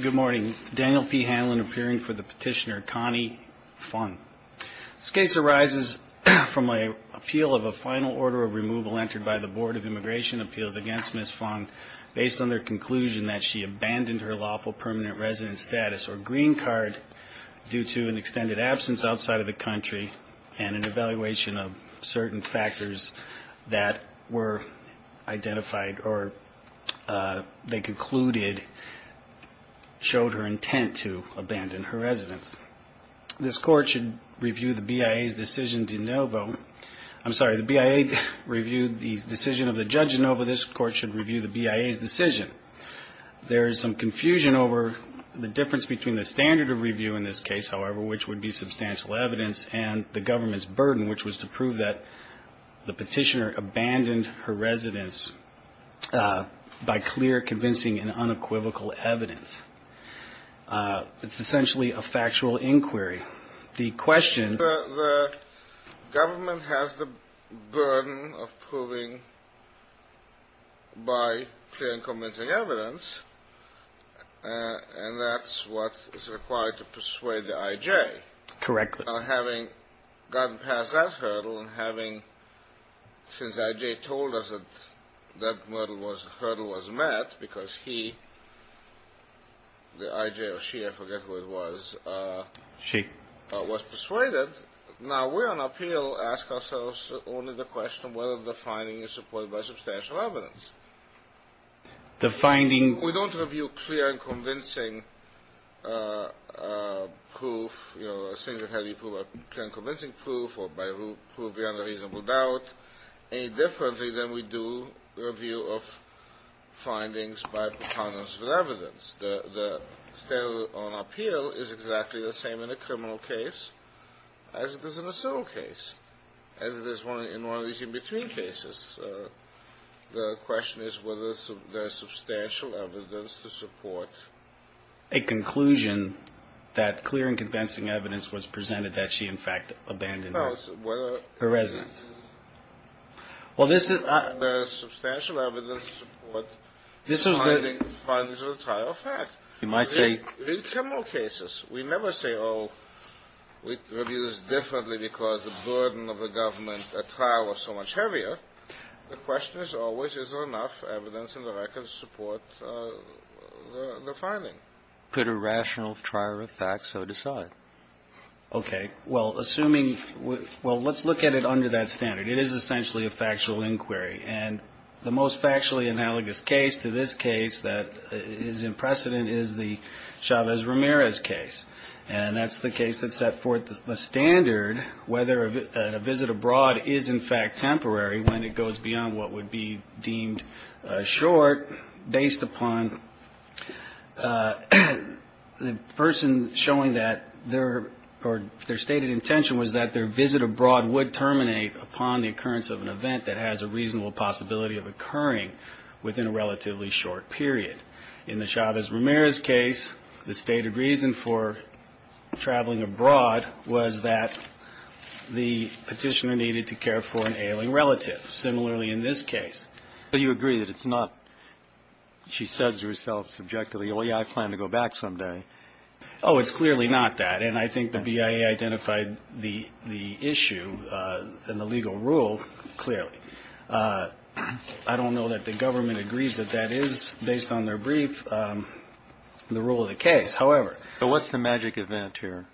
Good morning, Daniel P. Hanlon appearing for the petitioner Connie Fung. This case arises from a appeal of a final order of removal entered by the Board of Immigration Appeals against Ms. Fung based on their conclusion that she abandoned her lawful permanent resident status or green card due to an extended absence outside of the country and an evaluation of certain factors that were showed her intent to abandon her residence. This court should review the BIA's decision de novo. I'm sorry, the BIA reviewed the decision of the judge de novo. This court should review the BIA's decision. There is some confusion over the difference between the standard of review in this case, however, which would be substantial evidence and the government's burden, which was to prove that the petitioner abandoned her residence by clear, convincing and unequivocal evidence. It's essentially a factual inquiry. The question The government has the burden of proving by clear and convincing evidence, and that's what is required to persuade the I.J. Correct. Having gotten past that hurdle and having, since I.J. told us that that hurdle was met, because he the I.J. or she, I forget who it was, she was persuaded. Now we're on appeal, ask ourselves only the question whether the finding is supported by substantial evidence. The finding... We don't review clear and convincing proof, you know, things that have been proven by clear and convincing proof or by proof beyond a The standard on appeal is exactly the same in a criminal case as it is in a civil case, as it is in one of these in-between cases. The question is whether there's substantial evidence to support... A conclusion that clear and convincing evidence was presented that she, in fact, abandoned her residence. Well, this is... There's substantial evidence to support findings of a trial of fact. You might say... In criminal cases, we never say, oh, we review this differently because the burden of the government at trial was so much heavier. The question is always, is there enough evidence in the records to support the finding? Could a rational trial of fact so decide? Okay, well, assuming... Well, let's look at it under that standard. It is essentially a factual inquiry. And the most factually analogous case to this case that is in precedent is the Chavez-Ramirez case. And that's the case that set forth the standard whether a visit abroad is, in fact, temporary when it goes beyond what would be deemed short based upon the person showing that their... Or their stated intention was that their visit abroad would terminate upon the occurrence of an event that has a reasonable possibility of occurring within a relatively short period. In the Chavez-Ramirez case, the stated reason for traveling abroad was that the petitioner needed to care for an ailing relative. Similarly, in this case. But you agree that it's not... She says to herself subjectively, oh yeah, I plan to go back someday. Oh, it's clearly not that. And I think the BIA identified the issue and the legal rule clearly. I don't know that the government agrees that that is, based on their brief, the rule of the case. However... So what's the magic event here?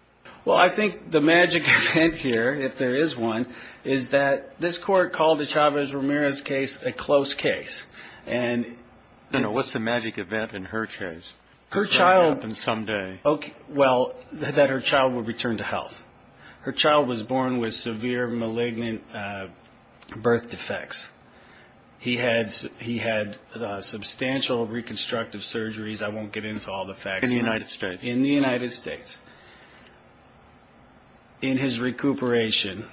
Well, I think the magic event here, if there is one, is that this court called the Chavez-Ramirez case a close case. And... No, no, what's the magic event in her case? Her child... Someday... Okay, well, that her child would return to health. Her child was born with severe malignant birth defects. He had substantial reconstructive surgeries. I won't get into all the facts. In the United States. In the United States. In his recuperation,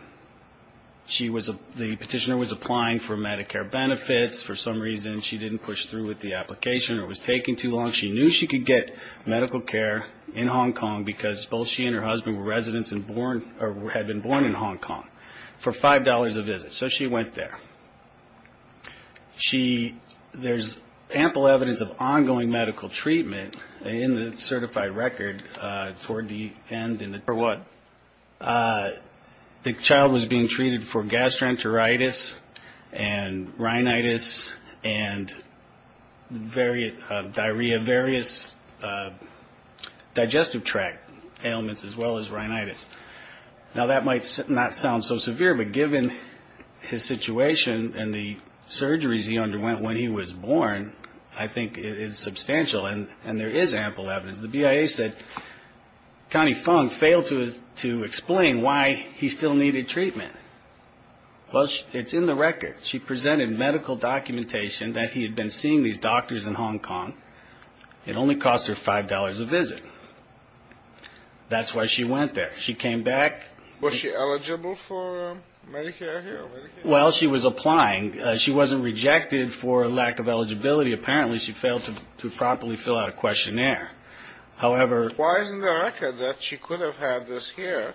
she was a... The petitioner was applying for Medicare benefits. For some reason, she didn't push through with the application or it was taking too long. She knew she could get medical care in Hong Kong because both she and her husband were residents and born... Or had been born in Hong Kong for five dollars a visit. So she went there. She... There's ample evidence of ongoing medical treatment in the certified record toward the end in the... For what? The child was being treated for gastroenteritis and rhinitis and various... Diarrhea. Various digestive tract ailments as well as rhinitis. Now, that might not sound so severe, but given his situation and the surgeries he underwent when he was born, I think it is substantial. And... And there is ample evidence. The BIA said Connie Fung failed to explain why he still needed treatment. Well, she... It's in the record. She presented medical documentation that he had been seeing these doctors in Hong Kong. It only cost her five dollars a visit. That's why she went there. She came back... Was she eligible for Medicare here? Well, she was applying. She wasn't rejected for lack of eligibility. Apparently, she failed to properly fill out a questionnaire. However... Why is it in the record that she could have had this here?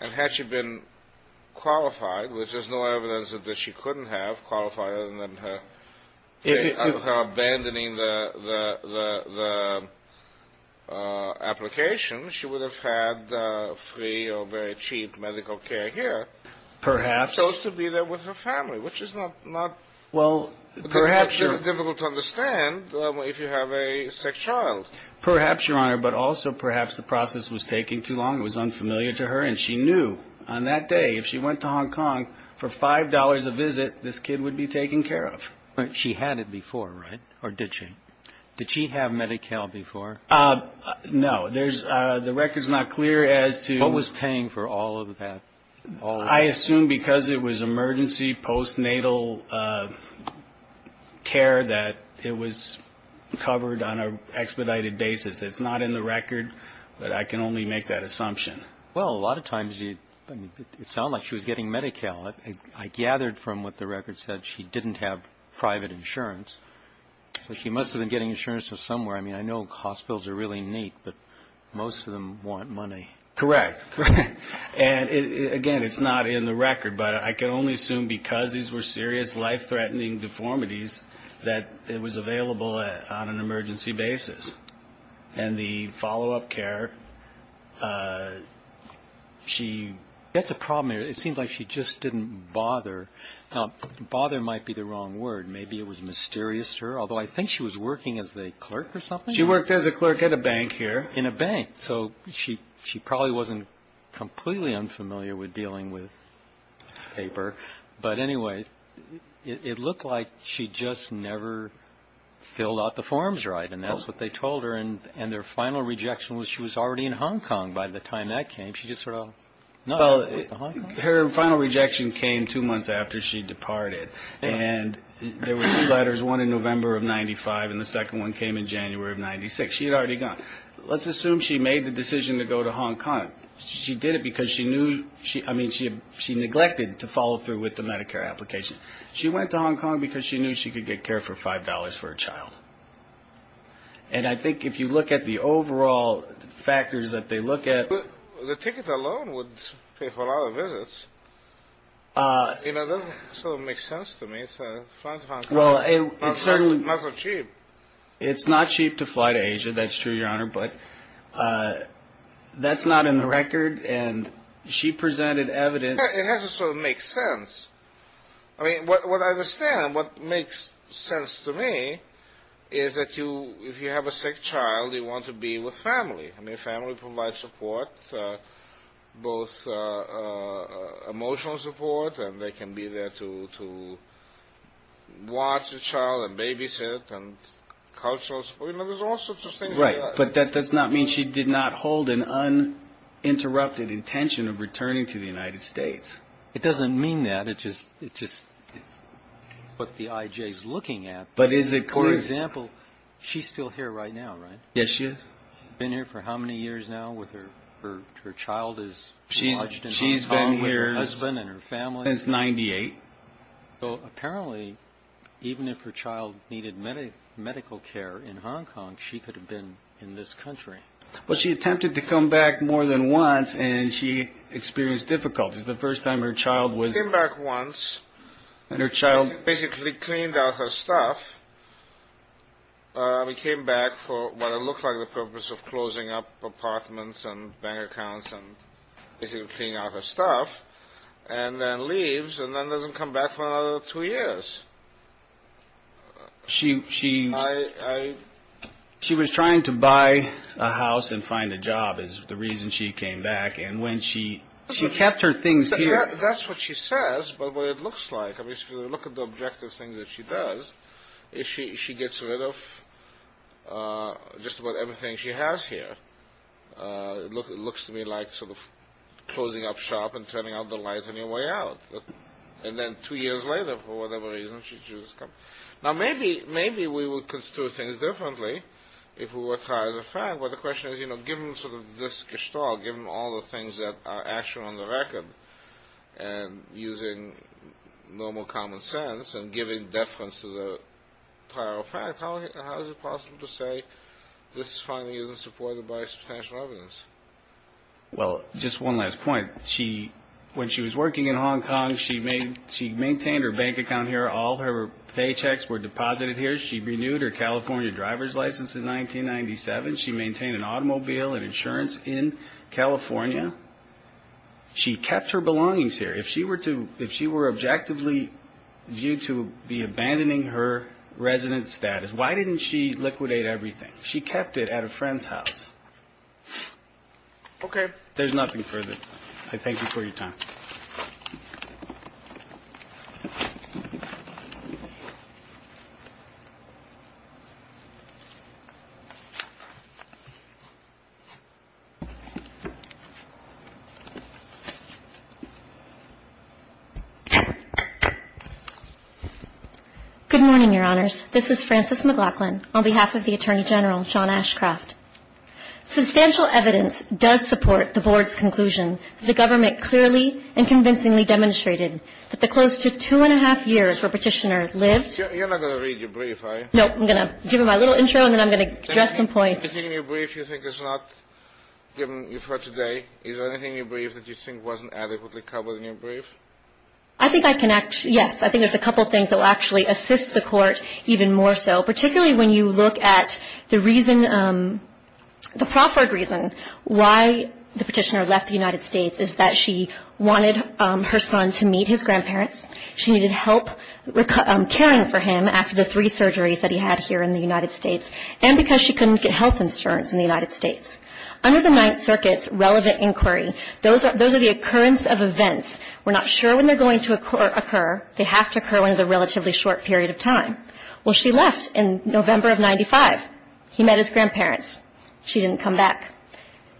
And had she been qualified, which there's no evidence that she couldn't have qualified other than her... If you... Her abandoning the... The... The application, she would have had free or very cheap medical care here. Perhaps. She chose to be there with her family, which is not... Not... Well, perhaps... It's difficult to understand if you have a child. Perhaps, Your Honor. But also, perhaps the process was taking too long. It was unfamiliar to her. And she knew on that day, if she went to Hong Kong for five dollars a visit, this kid would be taken care of. But she had it before, right? Or did she? Did she have Medi-Cal before? No. There's... The record's not clear as to... What was paying for all of that? All of it. I assume because it was expedited basis. It's not in the record, but I can only make that assumption. Well, a lot of times you... It sounded like she was getting Medi-Cal. I gathered from what the record said, she didn't have private insurance. So she must have been getting insurance from somewhere. I mean, I know hospitals are really neat, but most of them want money. Correct. And again, it's not in the record, but I can only assume because these were serious, life-threatening deformities, that it was expedited basis. And the follow-up care, she... That's a problem here. It seems like she just didn't bother. Now, bother might be the wrong word. Maybe it was mysterious to her, although I think she was working as a clerk or something? She worked as a clerk at a bank here. In a bank. So she probably wasn't completely unfamiliar with dealing with paper. But anyway, it looked like she just never filled out the forms right, and that's what they told her. And their final rejection was she was already in Hong Kong by the time that came. She just sort of... Her final rejection came two months after she departed. And there were two letters, one in November of 95, and the second one came in January of 96. She had already gone. Let's assume she made the decision to go to Hong Kong. She did it because she knew... I mean, she neglected to follow through with the Medicare application. She went to Hong Kong because she knew she could get care for $25 for a child. And I think if you look at the overall factors that they look at... The ticket alone would pay for a lot of visits. You know, that doesn't sort of make sense to me. Well, it's certainly... Not so cheap. It's not cheap to fly to Asia, that's true, Your Honor, but that's not in the record, and she presented evidence... It doesn't sort of make sense. I mean, what I understand, what makes sense to me, is that if you have a sick child, you want to be with family. I mean, family provides support, both emotional support, and they can be there to watch the child and babysit, and cultural support. You know, there's all sorts of things like that. Right, but that does not mean she did not hold an uninterrupted intention of going to Hong Kong. It doesn't mean that. It's just what the I.J.'s looking at. But is it clear... For example, she's still here right now, right? Yes, she is. She's been here for how many years now with her child is lodged in Hong Kong with her husband and her family? She's been here since 98. So apparently, even if her child needed medical care in Hong Kong, she could have been in this country. Well, she attempted to come back more than once, and she experienced difficulties. The first time her child was... She came back once, and her child basically cleaned out her stuff. We came back for what looked like the purpose of closing up apartments and bank accounts, and basically cleaned out her stuff, and then leaves, and then doesn't come back for another two years. She was trying to buy a house and find a job is the reason she came back. And when she... She kept her things here. That's what she says, but what it looks like. I mean, if you look at the objective things that she does, she gets rid of just about everything she has here. It looks to me like sort of closing up shop and turning out the lights on your way out. And then two years later, for whatever reason, she just comes... Now, maybe we would construe things differently if we were trying to find... But the question is, you know, given sort of this gestalt, given all the things that are actual on the record, and using normal common sense, and giving deference to the entire fact, how is it possible to say this finding isn't supported by substantial evidence? Well, just one last point. When she was working in Hong Kong, she maintained her bank account here. All her paychecks were deposited here. She renewed her California driver's license in 1997. She maintained an automobile and insurance in California. She kept her belongings here. If she were to... If she were objectively viewed to be abandoning her resident status, why didn't she liquidate everything? She kept it at a friend's house. OK. There's nothing further. I thank you for your time. Good morning, Your Honors. This is Frances McLaughlin on behalf of the Attorney General, Sean Ashcroft. Substantial evidence does support the Board's conclusion that the government clearly and convincingly demonstrated that the close to two and a half years where Petitioner lived... You're not going to read your brief, are you? No. I'm going to give you my little intro, and then I'm going to address some points. Is there anything in your brief you think is not given you for today? Is there anything in your brief that you think wasn't adequately covered in your brief? I think I can... Yes. I think there's a couple of things that will actually assist the Court even more so, particularly when you look at the reason... the proffered reason why the Petitioner left the United States is that she wanted her son to meet his grandparents. She needed help caring for him after the three surgeries that he had here in the United States, and because she couldn't get health insurance in the United States. Under the Ninth Circuit's relevant inquiry, those are the occurrence of events. We're not sure when they're going to occur. They have to occur in a relatively short period of time. Well, she left in November of 1995. He met his grandparents. She didn't come back.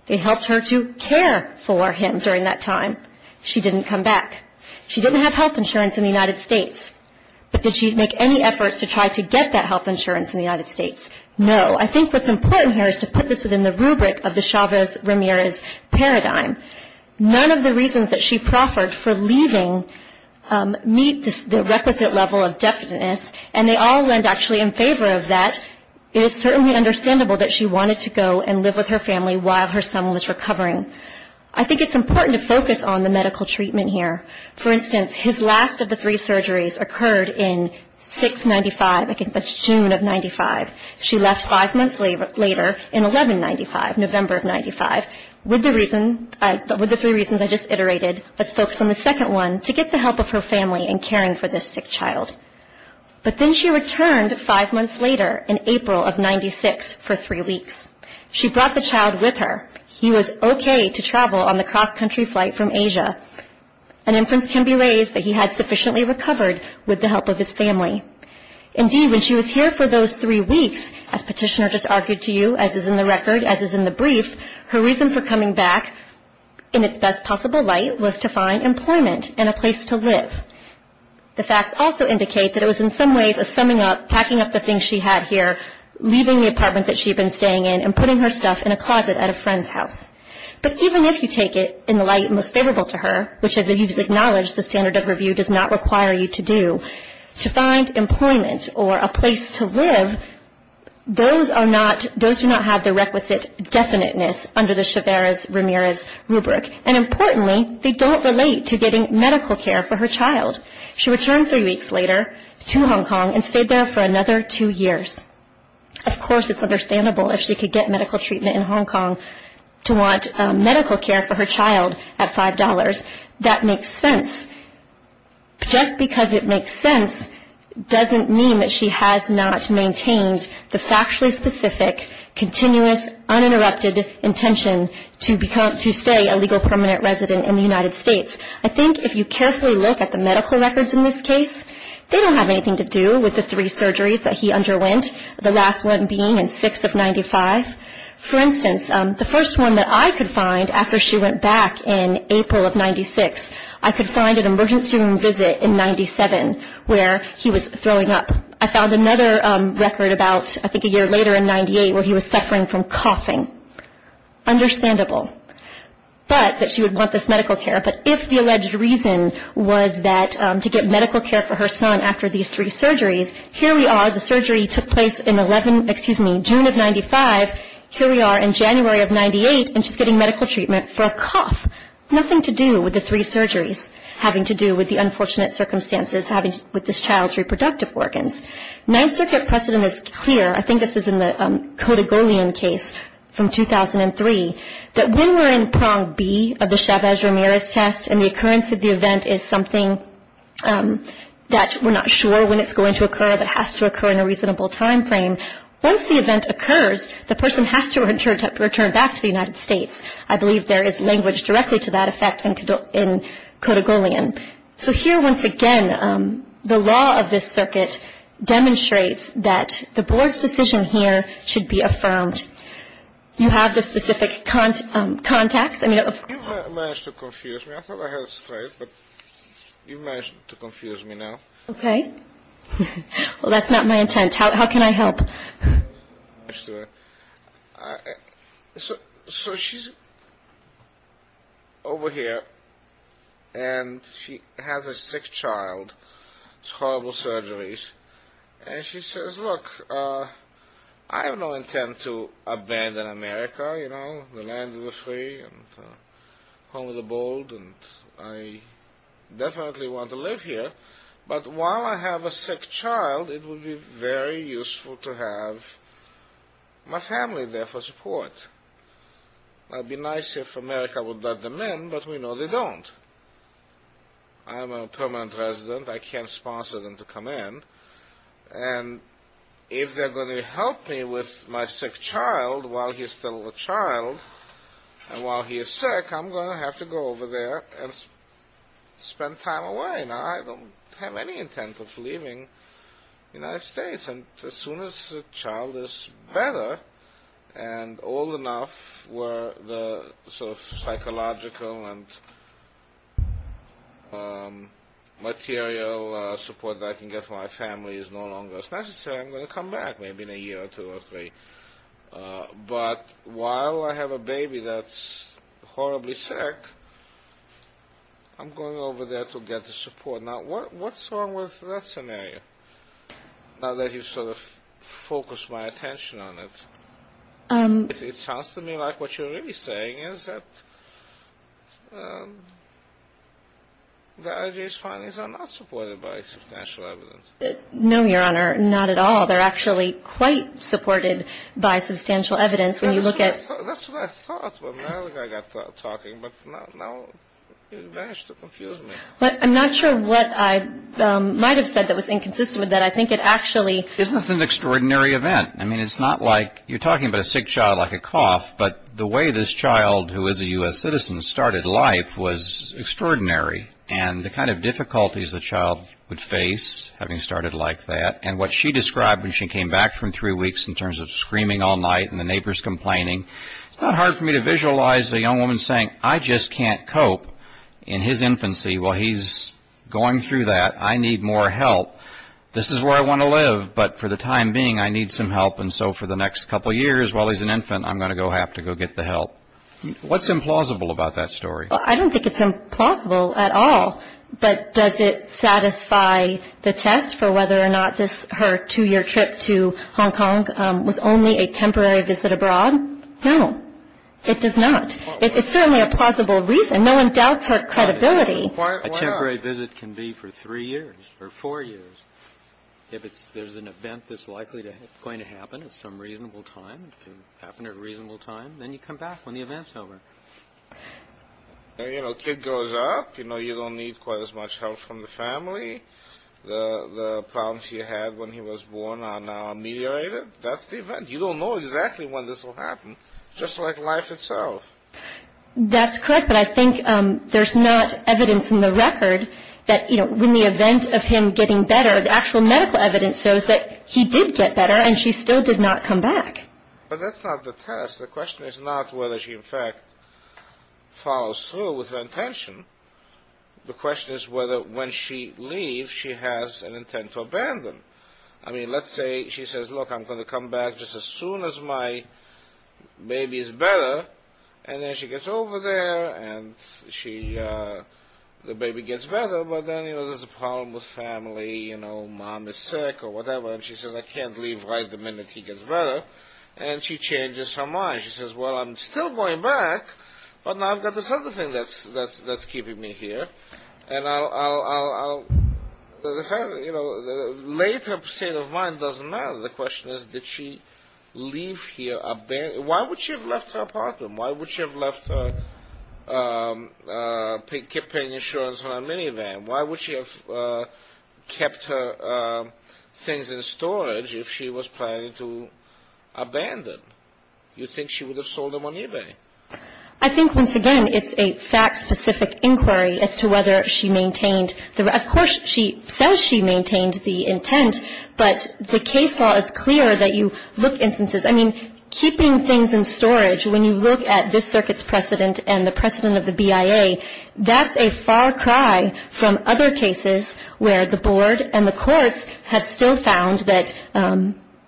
They helped her to care for him during that time. She didn't come back. She didn't have health insurance in the United States. But did she make any efforts to try to get that health insurance in the United States? No. I think what's important here is to put this within the rubric of the Chavez-Ramirez paradigm. None of the reasons that she proffered for leaving meet the requisite level of definiteness, and they all lend actually in favor of that. It is certainly understandable that she wanted to go and live with her family while her son was recovering. I think it's important to focus on the medical treatment here. For instance, his last of the three surgeries occurred in June of 1995. She left five months later in November of 1995. With the three reasons I just iterated, let's focus on the second one, to get the help of her family in caring for this sick child. But then she returned five months later in April of 1996 for three weeks. She brought the child with her. He was okay to travel on the cross-country flight from Asia. An inference can be raised that he had sufficiently recovered with the help of his family. Indeed, when she was here for those three weeks, as Petitioner just argued to you, as is in the record, as is in the brief, her reason for coming back in its best possible light was to find employment and a place to live. The facts also indicate that it was in some ways a summing up, packing up the things she had here, leaving the apartment that she had been staying in and putting her stuff in a closet at a friend's house. But even if you take it in the light most favorable to her, which, as we've acknowledged, the standard of review does not require you to do, to find employment or a place to live, those do not have the requisite definiteness under the Chaveras-Ramirez rubric. And importantly, they don't relate to getting medical care for her child. She returned three weeks later to Hong Kong and stayed there for another two years. Of course, it's understandable if she could get medical treatment in Hong Kong to want medical care for her child at $5. That makes sense. Just because it makes sense doesn't mean that she has not maintained the factually specific, continuous, uninterrupted intention to stay a legal permanent resident in the United States. I think if you carefully look at the medical records in this case, they don't have anything to do with the three surgeries that he underwent, the last one being in 6 of 95. For instance, the first one that I could find after she went back in April of 96, I could find an emergency room visit in 97 where he was throwing up. I found another record about, I think, a year later in 98 where he was suffering from coughing. Understandable. But that she would want this medical care. But if the alleged reason was that to get medical care for her son after these three surgeries, here we are, the surgery took place in 11, excuse me, June of 95. Here we are in January of 98, and she's getting medical treatment for a cough. Nothing to do with the three surgeries having to do with the unfortunate circumstances with this child's reproductive organs. Ninth Circuit precedent is clear. I think this is in the Codigolian case from 2003, that when we're in prong B of the Chavez-Ramirez test and the occurrence of the event is something that we're not sure when it's going to occur, but it has to occur in a reasonable timeframe, once the event occurs, the person has to return back to the United States. I believe there is language directly to that effect in Codigolian. So here, once again, the law of this circuit demonstrates that the board's decision here should be affirmed. You have the specific contacts? You managed to confuse me. I thought I heard it straight, but you managed to confuse me now. Okay. Well, that's not my intent. How can I help? So she's over here, and she has a sick child. It's horrible surgeries. And she says, look, I have no intent to abandon America, you know. The land is free and home of the bold, and I definitely want to live here. But while I have a sick child, it would be very useful to have my family there for support. It would be nice if America would let them in, but we know they don't. I'm a permanent resident. I can't sponsor them to come in. And if they're going to help me with my sick child while he's still a child, and while he is sick, I'm going to have to go over there and spend time away. Now, I don't have any intent of leaving the United States. And as soon as the child is better and old enough where the sort of psychological and material support that I can get for my family is no longer necessary, I'm going to come back maybe in a year or two or three. But while I have a baby that's horribly sick, I'm going over there to get the support. Now, what's wrong with that scenario, now that you've sort of focused my attention on it? It sounds to me like what you're really saying is that the IJS findings are not supported by substantial evidence. No, Your Honor, not at all. They're actually quite supported by substantial evidence when you look at- That's what I thought when Natalie and I got talking, but now you've managed to confuse me. I'm not sure what I might have said that was inconsistent with that. I think it actually- Isn't this an extraordinary event? I mean, it's not like you're talking about a sick child like a cough. But the way this child, who is a U.S. citizen, started life was extraordinary, and the kind of difficulties the child would face having started like that, and what she described when she came back from three weeks in terms of screaming all night and the neighbors complaining, it's not hard for me to visualize a young woman saying, I just can't cope in his infancy while he's going through that. I need more help. This is where I want to live, but for the time being, I need some help, and so for the next couple years while he's an infant, I'm going to have to go get the help. What's implausible about that story? I don't think it's implausible at all, but does it satisfy the test for whether or not her two-year trip to Hong Kong was only a temporary visit abroad? No, it does not. It's certainly a plausible reason. No one doubts her credibility. A temporary visit can be for three years or four years. If there's an event that's likely going to happen at some reasonable time, then you come back when the event's over. You know, a kid grows up. You know, you don't need quite as much help from the family. The problems he had when he was born are now ameliorated. That's the event. You don't know exactly when this will happen, just like life itself. That's correct, but I think there's not evidence in the record that, you know, in the event of him getting better, the actual medical evidence shows that he did get better, and she still did not come back. But that's not the test. The question is not whether she, in fact, follows through with her intention. The question is whether, when she leaves, she has an intent to abandon. I mean, let's say she says, look, I'm going to come back just as soon as my baby is better, and then she gets over there, and the baby gets better, but then, you know, there's a problem with family, you know, mom is sick or whatever, and she says, I can't leave right the minute he gets better, and she changes her mind. She says, well, I'm still going back, but now I've got this other thing that's keeping me here, and I'll, you know, later state of mind doesn't matter. The question is, did she leave here abandoned? Why would she have left her apartment? Why would she have left her, kept paying insurance on a minivan? Why would she have kept her things in storage if she was planning to abandon? You'd think she would have sold them on eBay. I think, once again, it's a fact-specific inquiry as to whether she maintained the, of course, she says she maintained the intent, but the case law is clear that you look instances. I mean, keeping things in storage, when you look at this circuit's precedent and the precedent of the BIA, that's a far cry from other cases where the board and the courts have still found that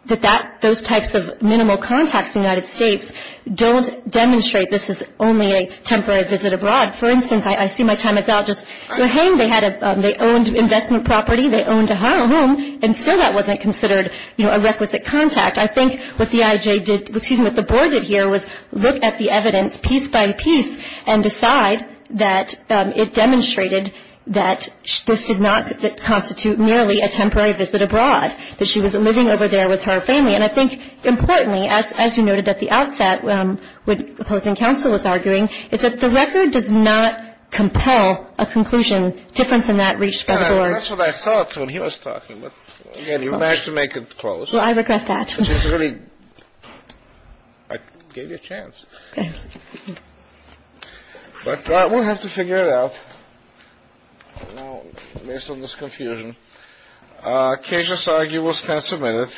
that, those types of minimal contacts in the United States don't demonstrate this is only a temporary visit abroad. For instance, I see my time is out. Just, you know, they had a, they owned investment property, they owned a home, and still that wasn't considered, you know, a requisite contact. I think what the IJ did, excuse me, what the board did here was look at the evidence piece by piece and decide that it demonstrated that this did not constitute merely a temporary visit abroad, that she was living over there with her family. And I think, importantly, as you noted at the outset when opposing counsel was arguing, is that the record does not compel a conclusion different than that reached by the board. That's what I thought when he was talking. You managed to make it close. Well, I regret that. I gave you a chance. But we'll have to figure it out based on this confusion. Cases are you will stand submitted.